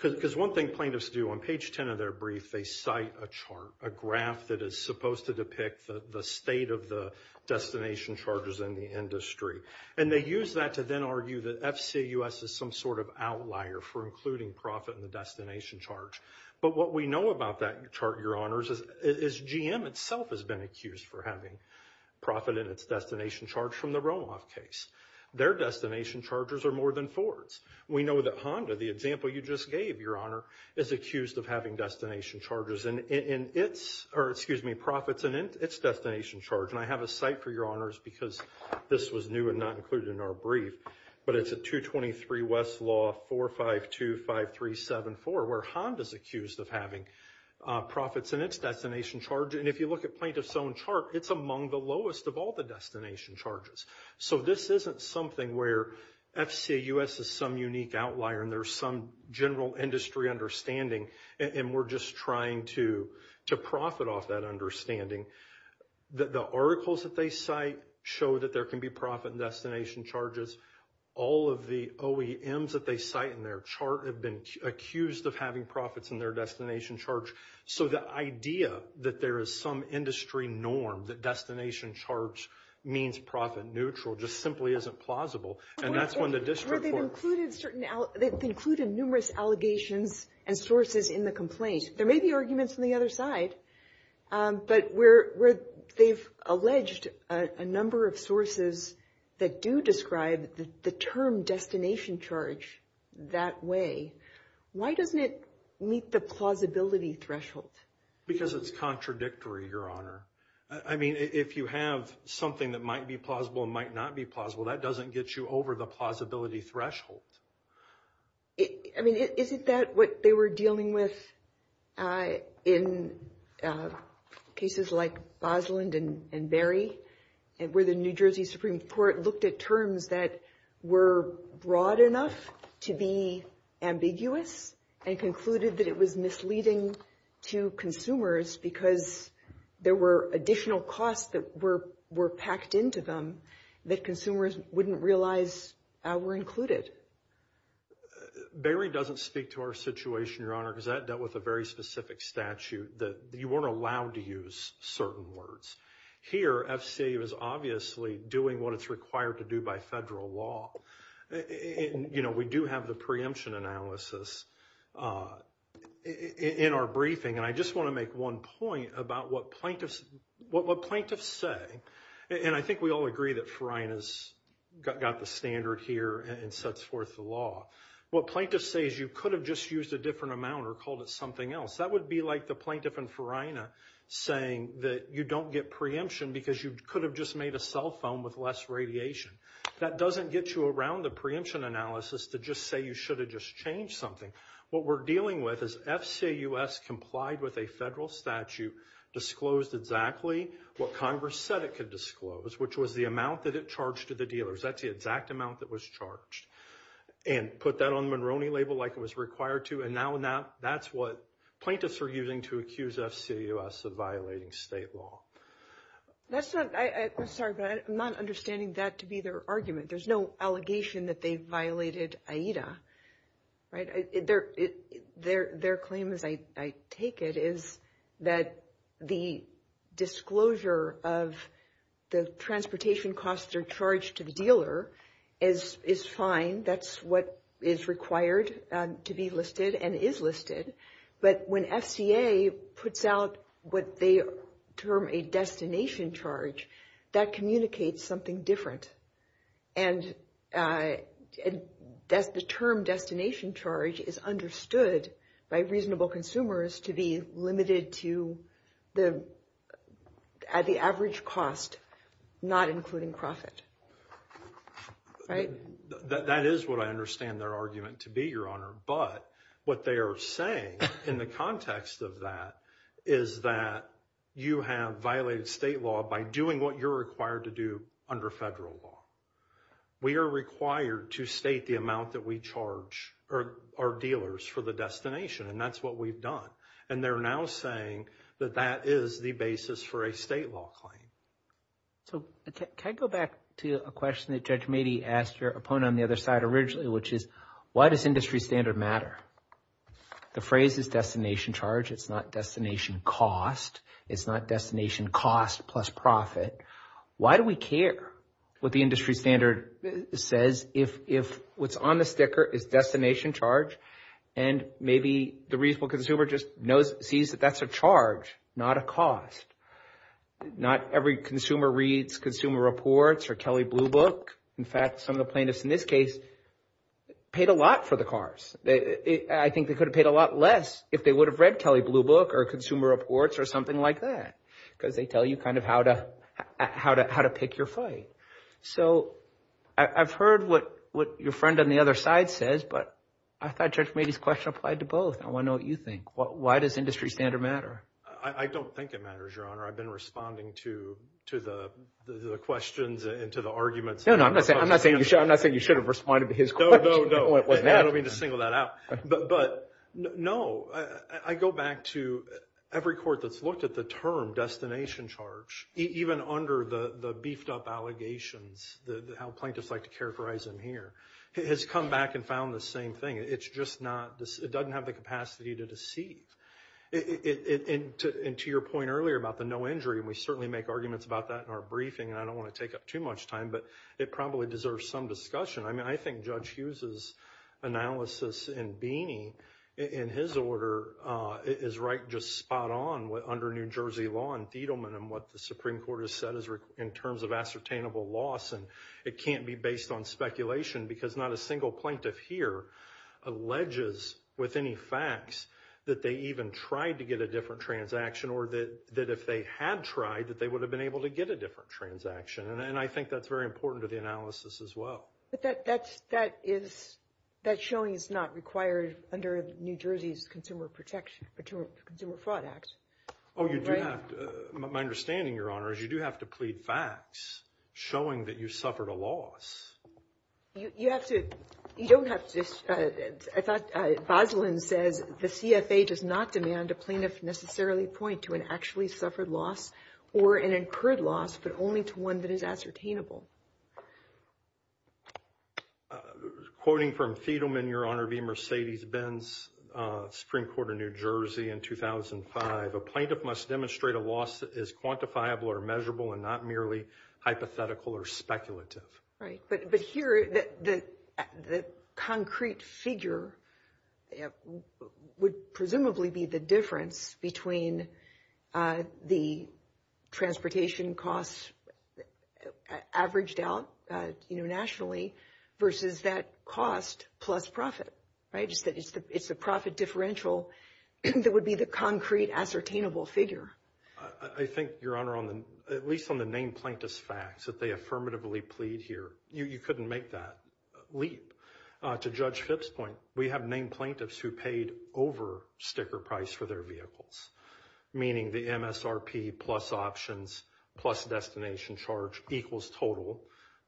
Because one thing plaintiffs do on page 10 of their brief, they cite a chart, a graph that is supposed to depict the state of the destination charges in the industry. And they use that to then argue that FCUS is some sort of outlier for including profit in the destination charge. But what we know about that chart, your honors, is GM itself has been accused for having profit in its destination charge from the roll off case. Their destination chargers are more than Ford's. We know that Honda, the example you just gave, your honor, is accused of having destination charges in its or excuse me, profits in its destination charge. And I have a cite for your honors because this was new and not included in our brief. But it's a 223 Westlaw 4525374 where Honda's accused of having profits in its destination charge. And if you look at plaintiff's own chart, it's among the lowest of all the destination charges. So this isn't something where FCUS is some unique outlier and there's some general industry understanding. And we're just trying to profit off that understanding. The articles that they cite show that there can be profit in destination charges. All of the OEMs that they cite in their chart have been accused of having profits in their destination charge. So the idea that there is some industry norm that destination charge means profit neutral just simply isn't plausible. And that's when the district court. They've included numerous allegations and sources in the complaint. There may be arguments on the other side, but where they've alleged a number of sources that do describe the term destination charge that way. Why doesn't it meet the plausibility threshold? Because it's contradictory, your honor. I mean, if you have something that might be plausible and might not be plausible, that doesn't get you over the plausibility threshold. I mean, isn't that what they were dealing with in cases like Bosland and Berry? And where the New Jersey Supreme Court looked at terms that were broad enough to be ambiguous and concluded that it was misleading to consumers because there were additional costs that were packed into them that consumers wouldn't realize were included. Berry doesn't speak to our situation, your honor, because that dealt with a very specific statute that you weren't allowed to use certain words. Here, FCA is obviously doing what it's required to do by federal law. We do have the preemption analysis in our briefing. And I just want to make one point about what plaintiffs say. And I think we all agree that Farina's got the standard here and sets forth the law. What plaintiffs say is you could have just used a different amount or called it something else. That would be like the plaintiff in Farina saying that you don't get preemption because you could have just made a cell phone with less radiation. That doesn't get you around the preemption analysis to just say you should have just changed something. What we're dealing with is FCA U.S. complied with a federal statute, disclosed exactly what Congress said it could disclose, which was the amount that it charged to the dealers. That's the exact amount that was charged and put that on the Monroney label like it was required to. And now that's what plaintiffs are using to accuse FCA U.S. of violating state law. That's not I'm sorry, but I'm not understanding that to be their argument. There's no allegation that they violated AIDA. Right there. Their claim, as I take it, is that the disclosure of the transportation costs are charged to the dealer is is fine. That's what is required to be listed and is listed. But when FCA puts out what they term a destination charge, that communicates something different. And that's the term destination charge is understood by reasonable consumers to be limited to the at the average cost, not including profit. Right. That is what I understand their argument to be, Your Honor. But what they are saying in the context of that is that you have violated state law by doing what you're required to do under federal law. We are required to state the amount that we charge our dealers for the destination, and that's what we've done. And they're now saying that that is the basis for a state law claim. So can I go back to a question that Judge Meade asked your opponent on the other side originally, which is why does industry standard matter? The phrase is destination charge. It's not destination cost. It's not destination cost plus profit. Why do we care what the industry standard says if if what's on the sticker is destination charge? And maybe the reasonable consumer just knows, sees that that's a charge, not a cost. Not every consumer reads Consumer Reports or Kelley Blue Book. In fact, some of the plaintiffs in this case paid a lot for the cars. I think they could have paid a lot less if they would have read Kelley Blue Book or Consumer Reports or something like that, because they tell you kind of how to how to how to pick your fight. So I've heard what what your friend on the other side says, but I thought Judge Meade's question applied to both. I want to know what you think. Why does industry standard matter? I don't think it matters, Your Honor. I've been responding to to the questions and to the arguments. No, no, I'm not saying I'm not saying you should have responded to his question. No, no, no. I don't mean to single that out. But no, I go back to every court that's looked at the term destination charge, even under the beefed up allegations, how plaintiffs like to characterize them here, has come back and found the same thing. It's just not this. It doesn't have the capacity to deceive it. And to your point earlier about the no injury, we certainly make arguments about that in our briefing. I don't want to take up too much time, but it probably deserves some discussion. I mean, I think Judge Hughes's analysis and Beany in his order is right. under New Jersey law and Tiedemann and what the Supreme Court has said is in terms of ascertainable loss. And it can't be based on speculation because not a single plaintiff here alleges with any facts that they even tried to get a different transaction or that that if they had tried that they would have been able to get a different transaction. And I think that's very important to the analysis as well. But that that's that is that showing is not required under New Jersey's Consumer Protection Consumer Fraud Act. Oh, you do have to. My understanding, Your Honor, is you do have to plead facts showing that you suffered a loss. You have to. You don't have to. I thought Boslin says the CFA does not demand a plaintiff necessarily point to an actually suffered loss or an incurred loss, but only to one that is ascertainable. Quoting from Thiedemann, Your Honor v. Mercedes Benz, Supreme Court of New Jersey in 2005, a plaintiff must demonstrate a loss is quantifiable or measurable and not merely hypothetical or speculative. Right. But here, the concrete figure would presumably be the difference between the transportation costs averaged out nationally versus that cost plus profit. Right. Just that it's the it's the profit differential that would be the concrete ascertainable figure. I think, Your Honor, on the at least on the name plaintiffs facts that they affirmatively plead here, you couldn't make that leap to Judge Phipps point. We have named plaintiffs who paid over sticker price for their vehicles, meaning the MSRP plus options plus destination charge equals total.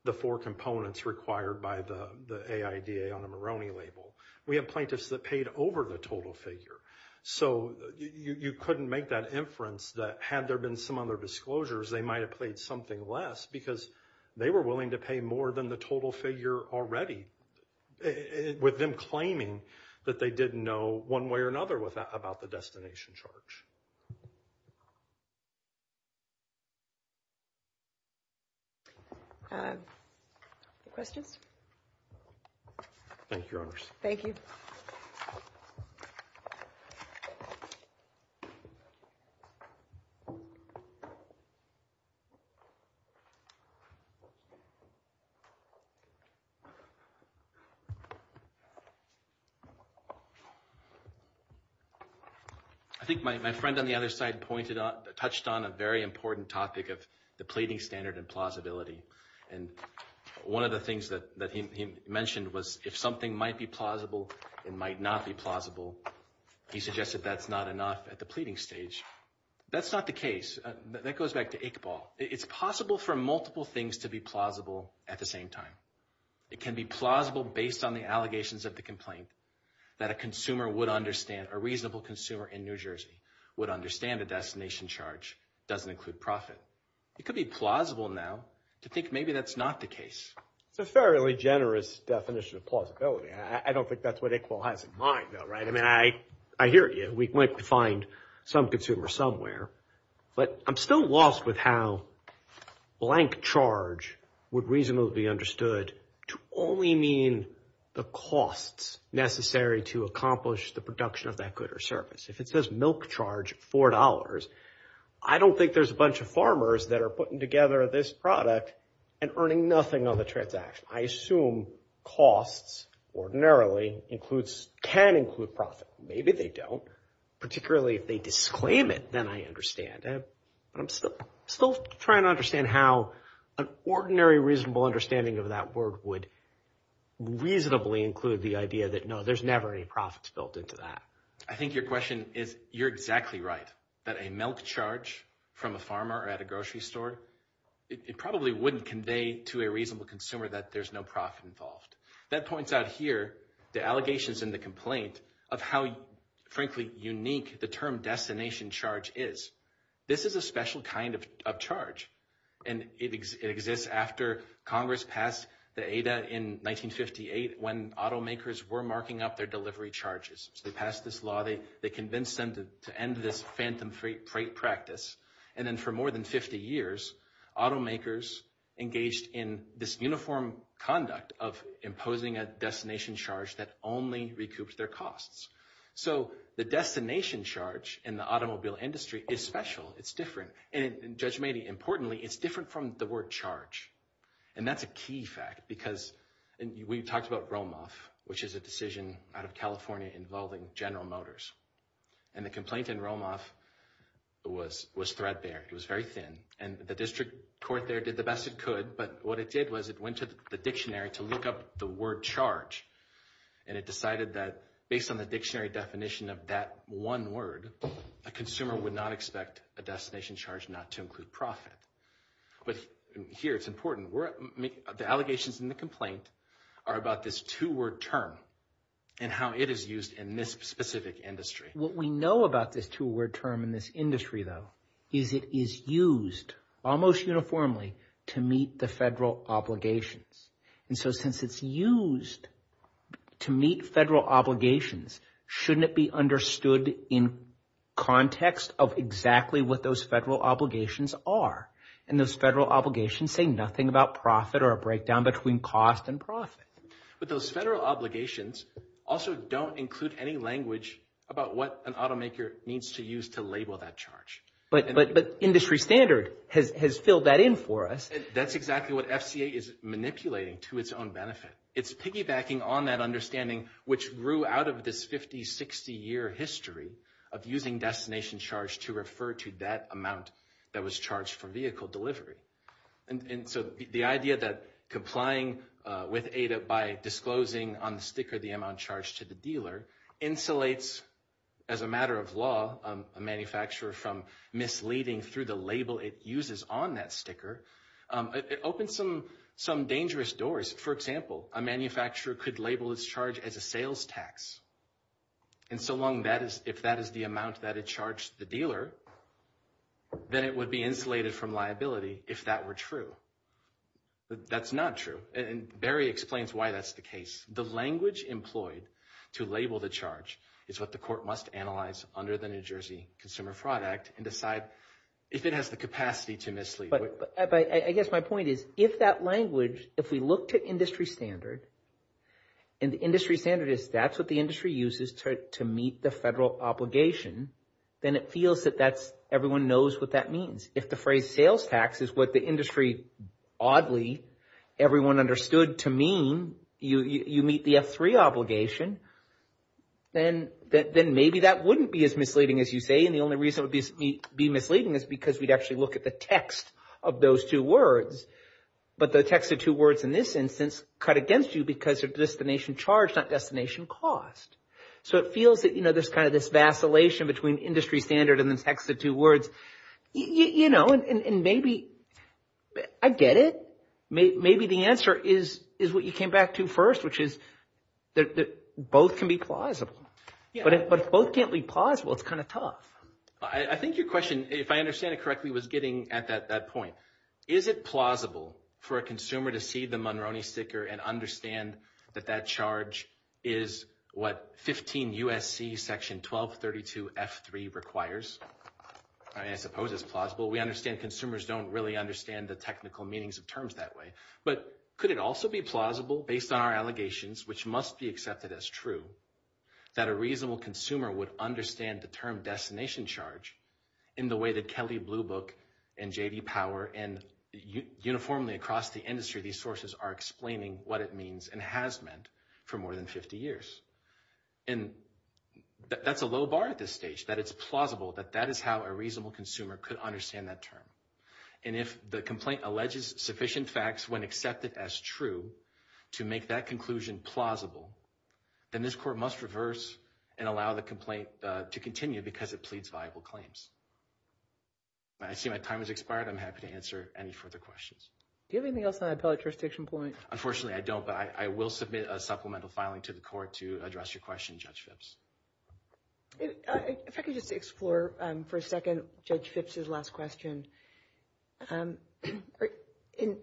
The four components required by the AIDA on the Moroni label. We have plaintiffs that paid over the total figure. So you couldn't make that inference that had there been some other disclosures, they might have played something less because they were willing to pay more than the total figure already with them claiming that they didn't know one way or another about the destination charge. Questions? Thank you, Your Honors. Thank you. I think my friend on the other side pointed out touched on a very important topic of the pleading standard and plausibility. And one of the things that he mentioned was if something might be plausible, it might not be plausible. He suggested that's not enough at the pleading stage. That's not the case. That goes back to Iqbal. It's possible for multiple things to be plausible at the same time. It can be plausible based on the allegations of the complaint that a consumer would understand a reasonable consumer in New Jersey would understand the destination charge doesn't include profit. It could be plausible now to think maybe that's not the case. It's a fairly generous definition of plausibility. I don't think that's what Iqbal has in mind though, right? I mean, I hear you. We might find some consumer somewhere. But I'm still lost with how blank charge would reasonably be understood to only mean the costs necessary to accomplish the production of that good or service. If it says milk charge $4, I don't think there's a bunch of farmers that are putting together this product and earning nothing on the transaction. I assume costs ordinarily includes can include profit. Maybe they don't. Particularly if they disclaim it, then I understand. I'm still trying to understand how an ordinary reasonable understanding of that word would reasonably include the idea that, no, there's never any profits built into that. I think your question is, you're exactly right, that a milk charge from a farmer at a grocery store, it probably wouldn't convey to a reasonable consumer that there's no profit involved. That points out here the allegations in the complaint of how, frankly, unique the term destination charge is. This is a special kind of charge. And it exists after Congress passed the ADA in 1958 when automakers were marking up their delivery charges. So they passed this law. They convinced them to end this phantom freight practice. And then for more than 50 years, automakers engaged in this uniform conduct of imposing a destination charge that only recouped their costs. So the destination charge in the automobile industry is special. It's different. And Judge Maney, importantly, it's different from the word charge. And that's a key fact because we talked about Romoff, which is a decision out of California involving General Motors. And the complaint in Romoff was threadbare. It was very thin. And the district court there did the best it could. But what it did was it went to the dictionary to look up the word charge. And it decided that based on the dictionary definition of that one word, a consumer would not expect a destination charge not to include profit. But here it's important. The allegations in the complaint are about this two-word term and how it is used in this specific industry. What we know about this two-word term in this industry, though, is it is used almost uniformly to meet the federal obligations. And so since it's used to meet federal obligations, shouldn't it be understood in context of exactly what those federal obligations are? And those federal obligations say nothing about profit or a breakdown between cost and profit. But those federal obligations also don't include any language about what an automaker needs to use to label that charge. But industry standard has filled that in for us. That's exactly what FCA is manipulating to its own benefit. It's piggybacking on that understanding, which grew out of this 50, 60-year history of using destination charge to refer to that amount that was charged for vehicle delivery. And so the idea that complying with ADA by disclosing on the sticker the amount charged to the dealer insulates, as a matter of law, a manufacturer from misleading through the label it uses on that sticker, it opens some dangerous doors. For example, a manufacturer could label its charge as a sales tax. And so long if that is the amount that it charged the dealer, then it would be insulated from liability if that were true. That's not true. And Barry explains why that's the case. The language employed to label the charge is what the court must analyze under the New Jersey Consumer Fraud Act and decide if it has the capacity to mislead. I guess my point is if that language, if we look to industry standard, and the industry standard is that's what the industry uses to meet the federal obligation, then it feels that everyone knows what that means. If the phrase sales tax is what the industry, oddly, everyone understood to mean you meet the F3 obligation, then maybe that wouldn't be as misleading as you say. And the only reason it would be misleading is because we'd actually look at the text of those two words. But the text of two words in this instance cut against you because of destination charge, not destination cost. So it feels that, you know, there's kind of this vacillation between industry standard and the text of two words. You know, and maybe I get it. Maybe the answer is what you came back to first, which is that both can be plausible. But if both can't be plausible, it's kind of tough. I think your question, if I understand it correctly, was getting at that point. Is it plausible for a consumer to see the Monroney sticker and understand that that charge is what 15 U.S.C. section 1232 F3 requires? I mean, I suppose it's plausible. We understand consumers don't really understand the technical meanings of terms that way. But could it also be plausible based on our allegations, which must be accepted as true, that a reasonable consumer would understand the term destination charge in the way that Kelly Blue Book and J.D. Power and uniformly across the industry these sources are explaining what it means and has meant for more than 50 years? And that's a low bar at this stage, that it's plausible, that that is how a reasonable consumer could understand that term. And if the complaint alleges sufficient facts when accepted as true to make that conclusion plausible, then this court must reverse and allow the complaint to continue because it pleads viable claims. I see my time has expired. I'm happy to answer any further questions. Do you have anything else on the appellate jurisdiction point? Unfortunately, I don't. But I will submit a supplemental filing to the court to address your question, Judge Phipps. If I could just explore for a second Judge Phipps' last question. In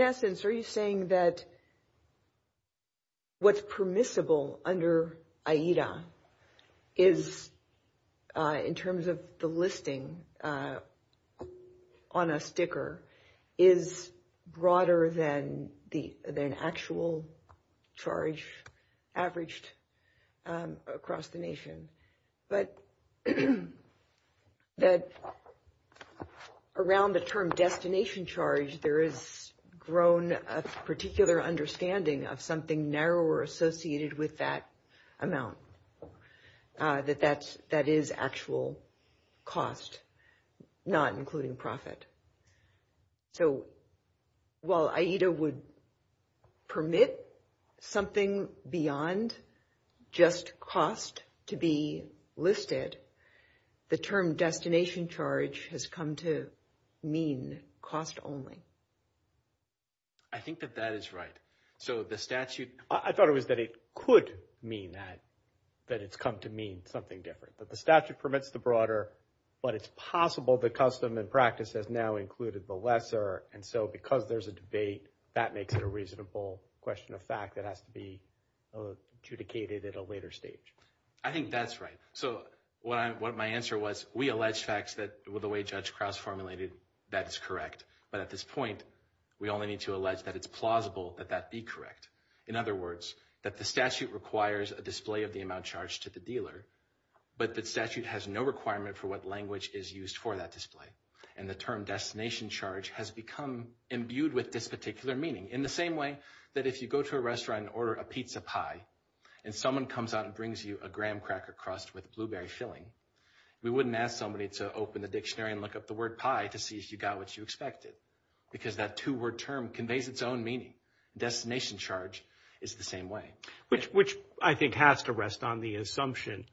essence, are you saying that what's permissible under AIDA is, in terms of the listing on a sticker, is broader than the actual charge averaged across the nation? But that around the term destination charge, there is grown a particular understanding of something narrower associated with that amount, that that is actual cost, not including profit. So while AIDA would permit something beyond just cost to be listed, the term destination charge has come to mean cost only. I think that that is right. So the statute, I thought it was that it could mean that, that it's come to mean something different. That the statute permits the broader, but it's possible the custom and practice has now included the lesser. And so because there's a debate, that makes it a reasonable question of fact that has to be adjudicated at a later stage. I think that's right. So what my answer was, we allege facts that, the way Judge Krause formulated, that it's correct. But at this point, we only need to allege that it's plausible that that be correct. In other words, that the statute requires a display of the amount charged to the dealer. But the statute has no requirement for what language is used for that display. And the term destination charge has become imbued with this particular meaning. In the same way that if you go to a restaurant and order a pizza pie, and someone comes out and brings you a graham cracker crust with blueberry filling, we wouldn't ask somebody to open the dictionary and look up the word pie to see if you got what you expected. Because that two-word term conveys its own meaning. Destination charge is the same way. Which I think has to rest on the assumption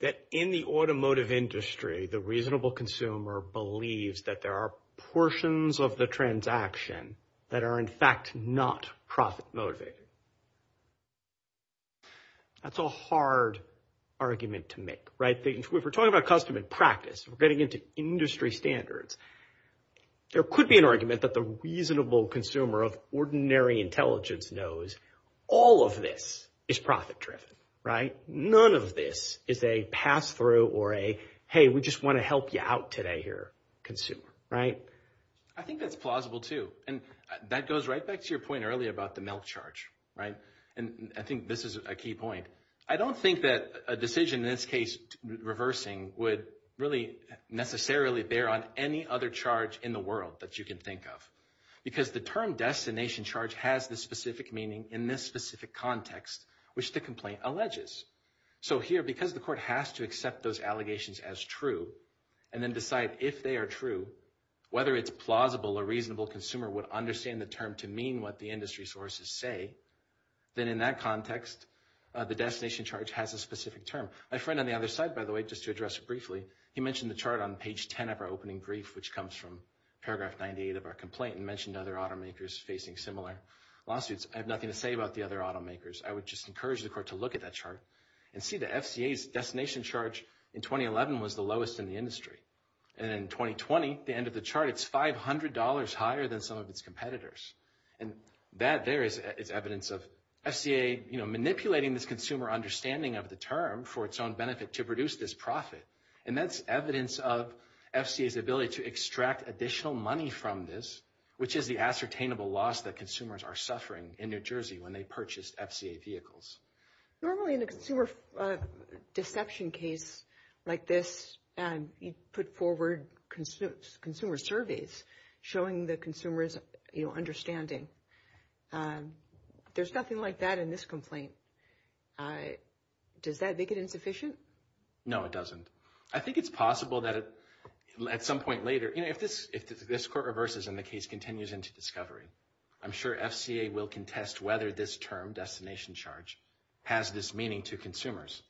that in the automotive industry, the reasonable consumer believes that there are portions of the transaction that are, in fact, not profit motivated. That's a hard argument to make, right? If we're talking about custom and practice, we're getting into industry standards. There could be an argument that the reasonable consumer of ordinary intelligence knows all of this is profit driven, right? None of this is a pass-through or a, hey, we just want to help you out today here, consumer, right? I think that's plausible, too. And that goes right back to your point earlier about the milk charge, right? And I think this is a key point. I don't think that a decision, in this case reversing, would really necessarily bear on any other charge in the world that you can think of. Because the term destination charge has the specific meaning in this specific context, which the complaint alleges. So here, because the court has to accept those allegations as true and then decide if they are true, whether it's plausible a reasonable consumer would understand the term to mean what the industry sources say, then in that context, the destination charge has a specific term. My friend on the other side, by the way, just to address it briefly, he mentioned the chart on page 10 of our opening brief, which comes from paragraph 98 of our complaint and mentioned other automakers facing similar lawsuits. I have nothing to say about the other automakers. I would just encourage the court to look at that chart and see the FCA's destination charge in 2011 was the lowest in the industry. And in 2020, the end of the chart, it's $500 higher than some of its competitors. And that there is evidence of FCA, you know, manipulating this consumer understanding of the term for its own benefit to produce this profit. And that's evidence of FCA's ability to extract additional money from this, which is the ascertainable loss that consumers are suffering in New Jersey when they purchase FCA vehicles. Normally in a consumer deception case like this, you put forward consumer surveys showing the consumer's understanding. There's nothing like that in this complaint. Does that make it insufficient? No, it doesn't. I think it's possible that at some point later, you know, if this court reverses and the case continues into discovery, I'm sure FCA will contest whether this term, destination charge, has this meaning to consumers.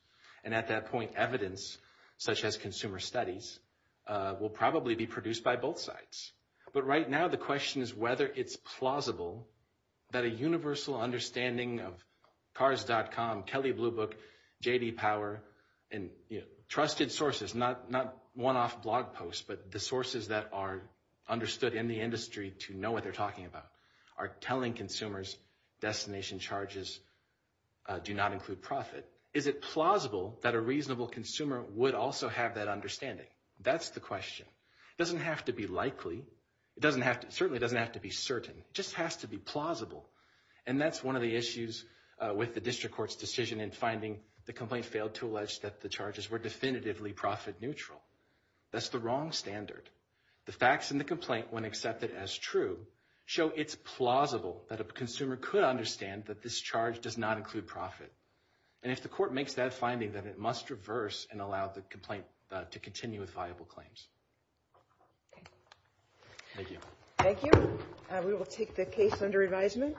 And at that point, evidence such as consumer studies will probably be produced by both sides. But right now, the question is whether it's plausible that a universal understanding of cars.com, Kelly Blue Book, J.D. Power, trusted sources, not one-off blog posts, but the sources that are understood in the industry to know what they're talking about, are telling consumers destination charges do not include profit. Is it plausible that a reasonable consumer would also have that understanding? That's the question. It doesn't have to be likely. It certainly doesn't have to be certain. It just has to be plausible. And that's one of the issues with the district court's decision in finding the complaint failed to allege that the charges were definitively profit neutral. That's the wrong standard. The facts in the complaint, when accepted as true, show it's plausible that a consumer could understand that this charge does not include profit. And if the court makes that finding, then it must reverse and allow the complaint to continue with viable claims. Thank you. Thank you. We will take the case under advisement.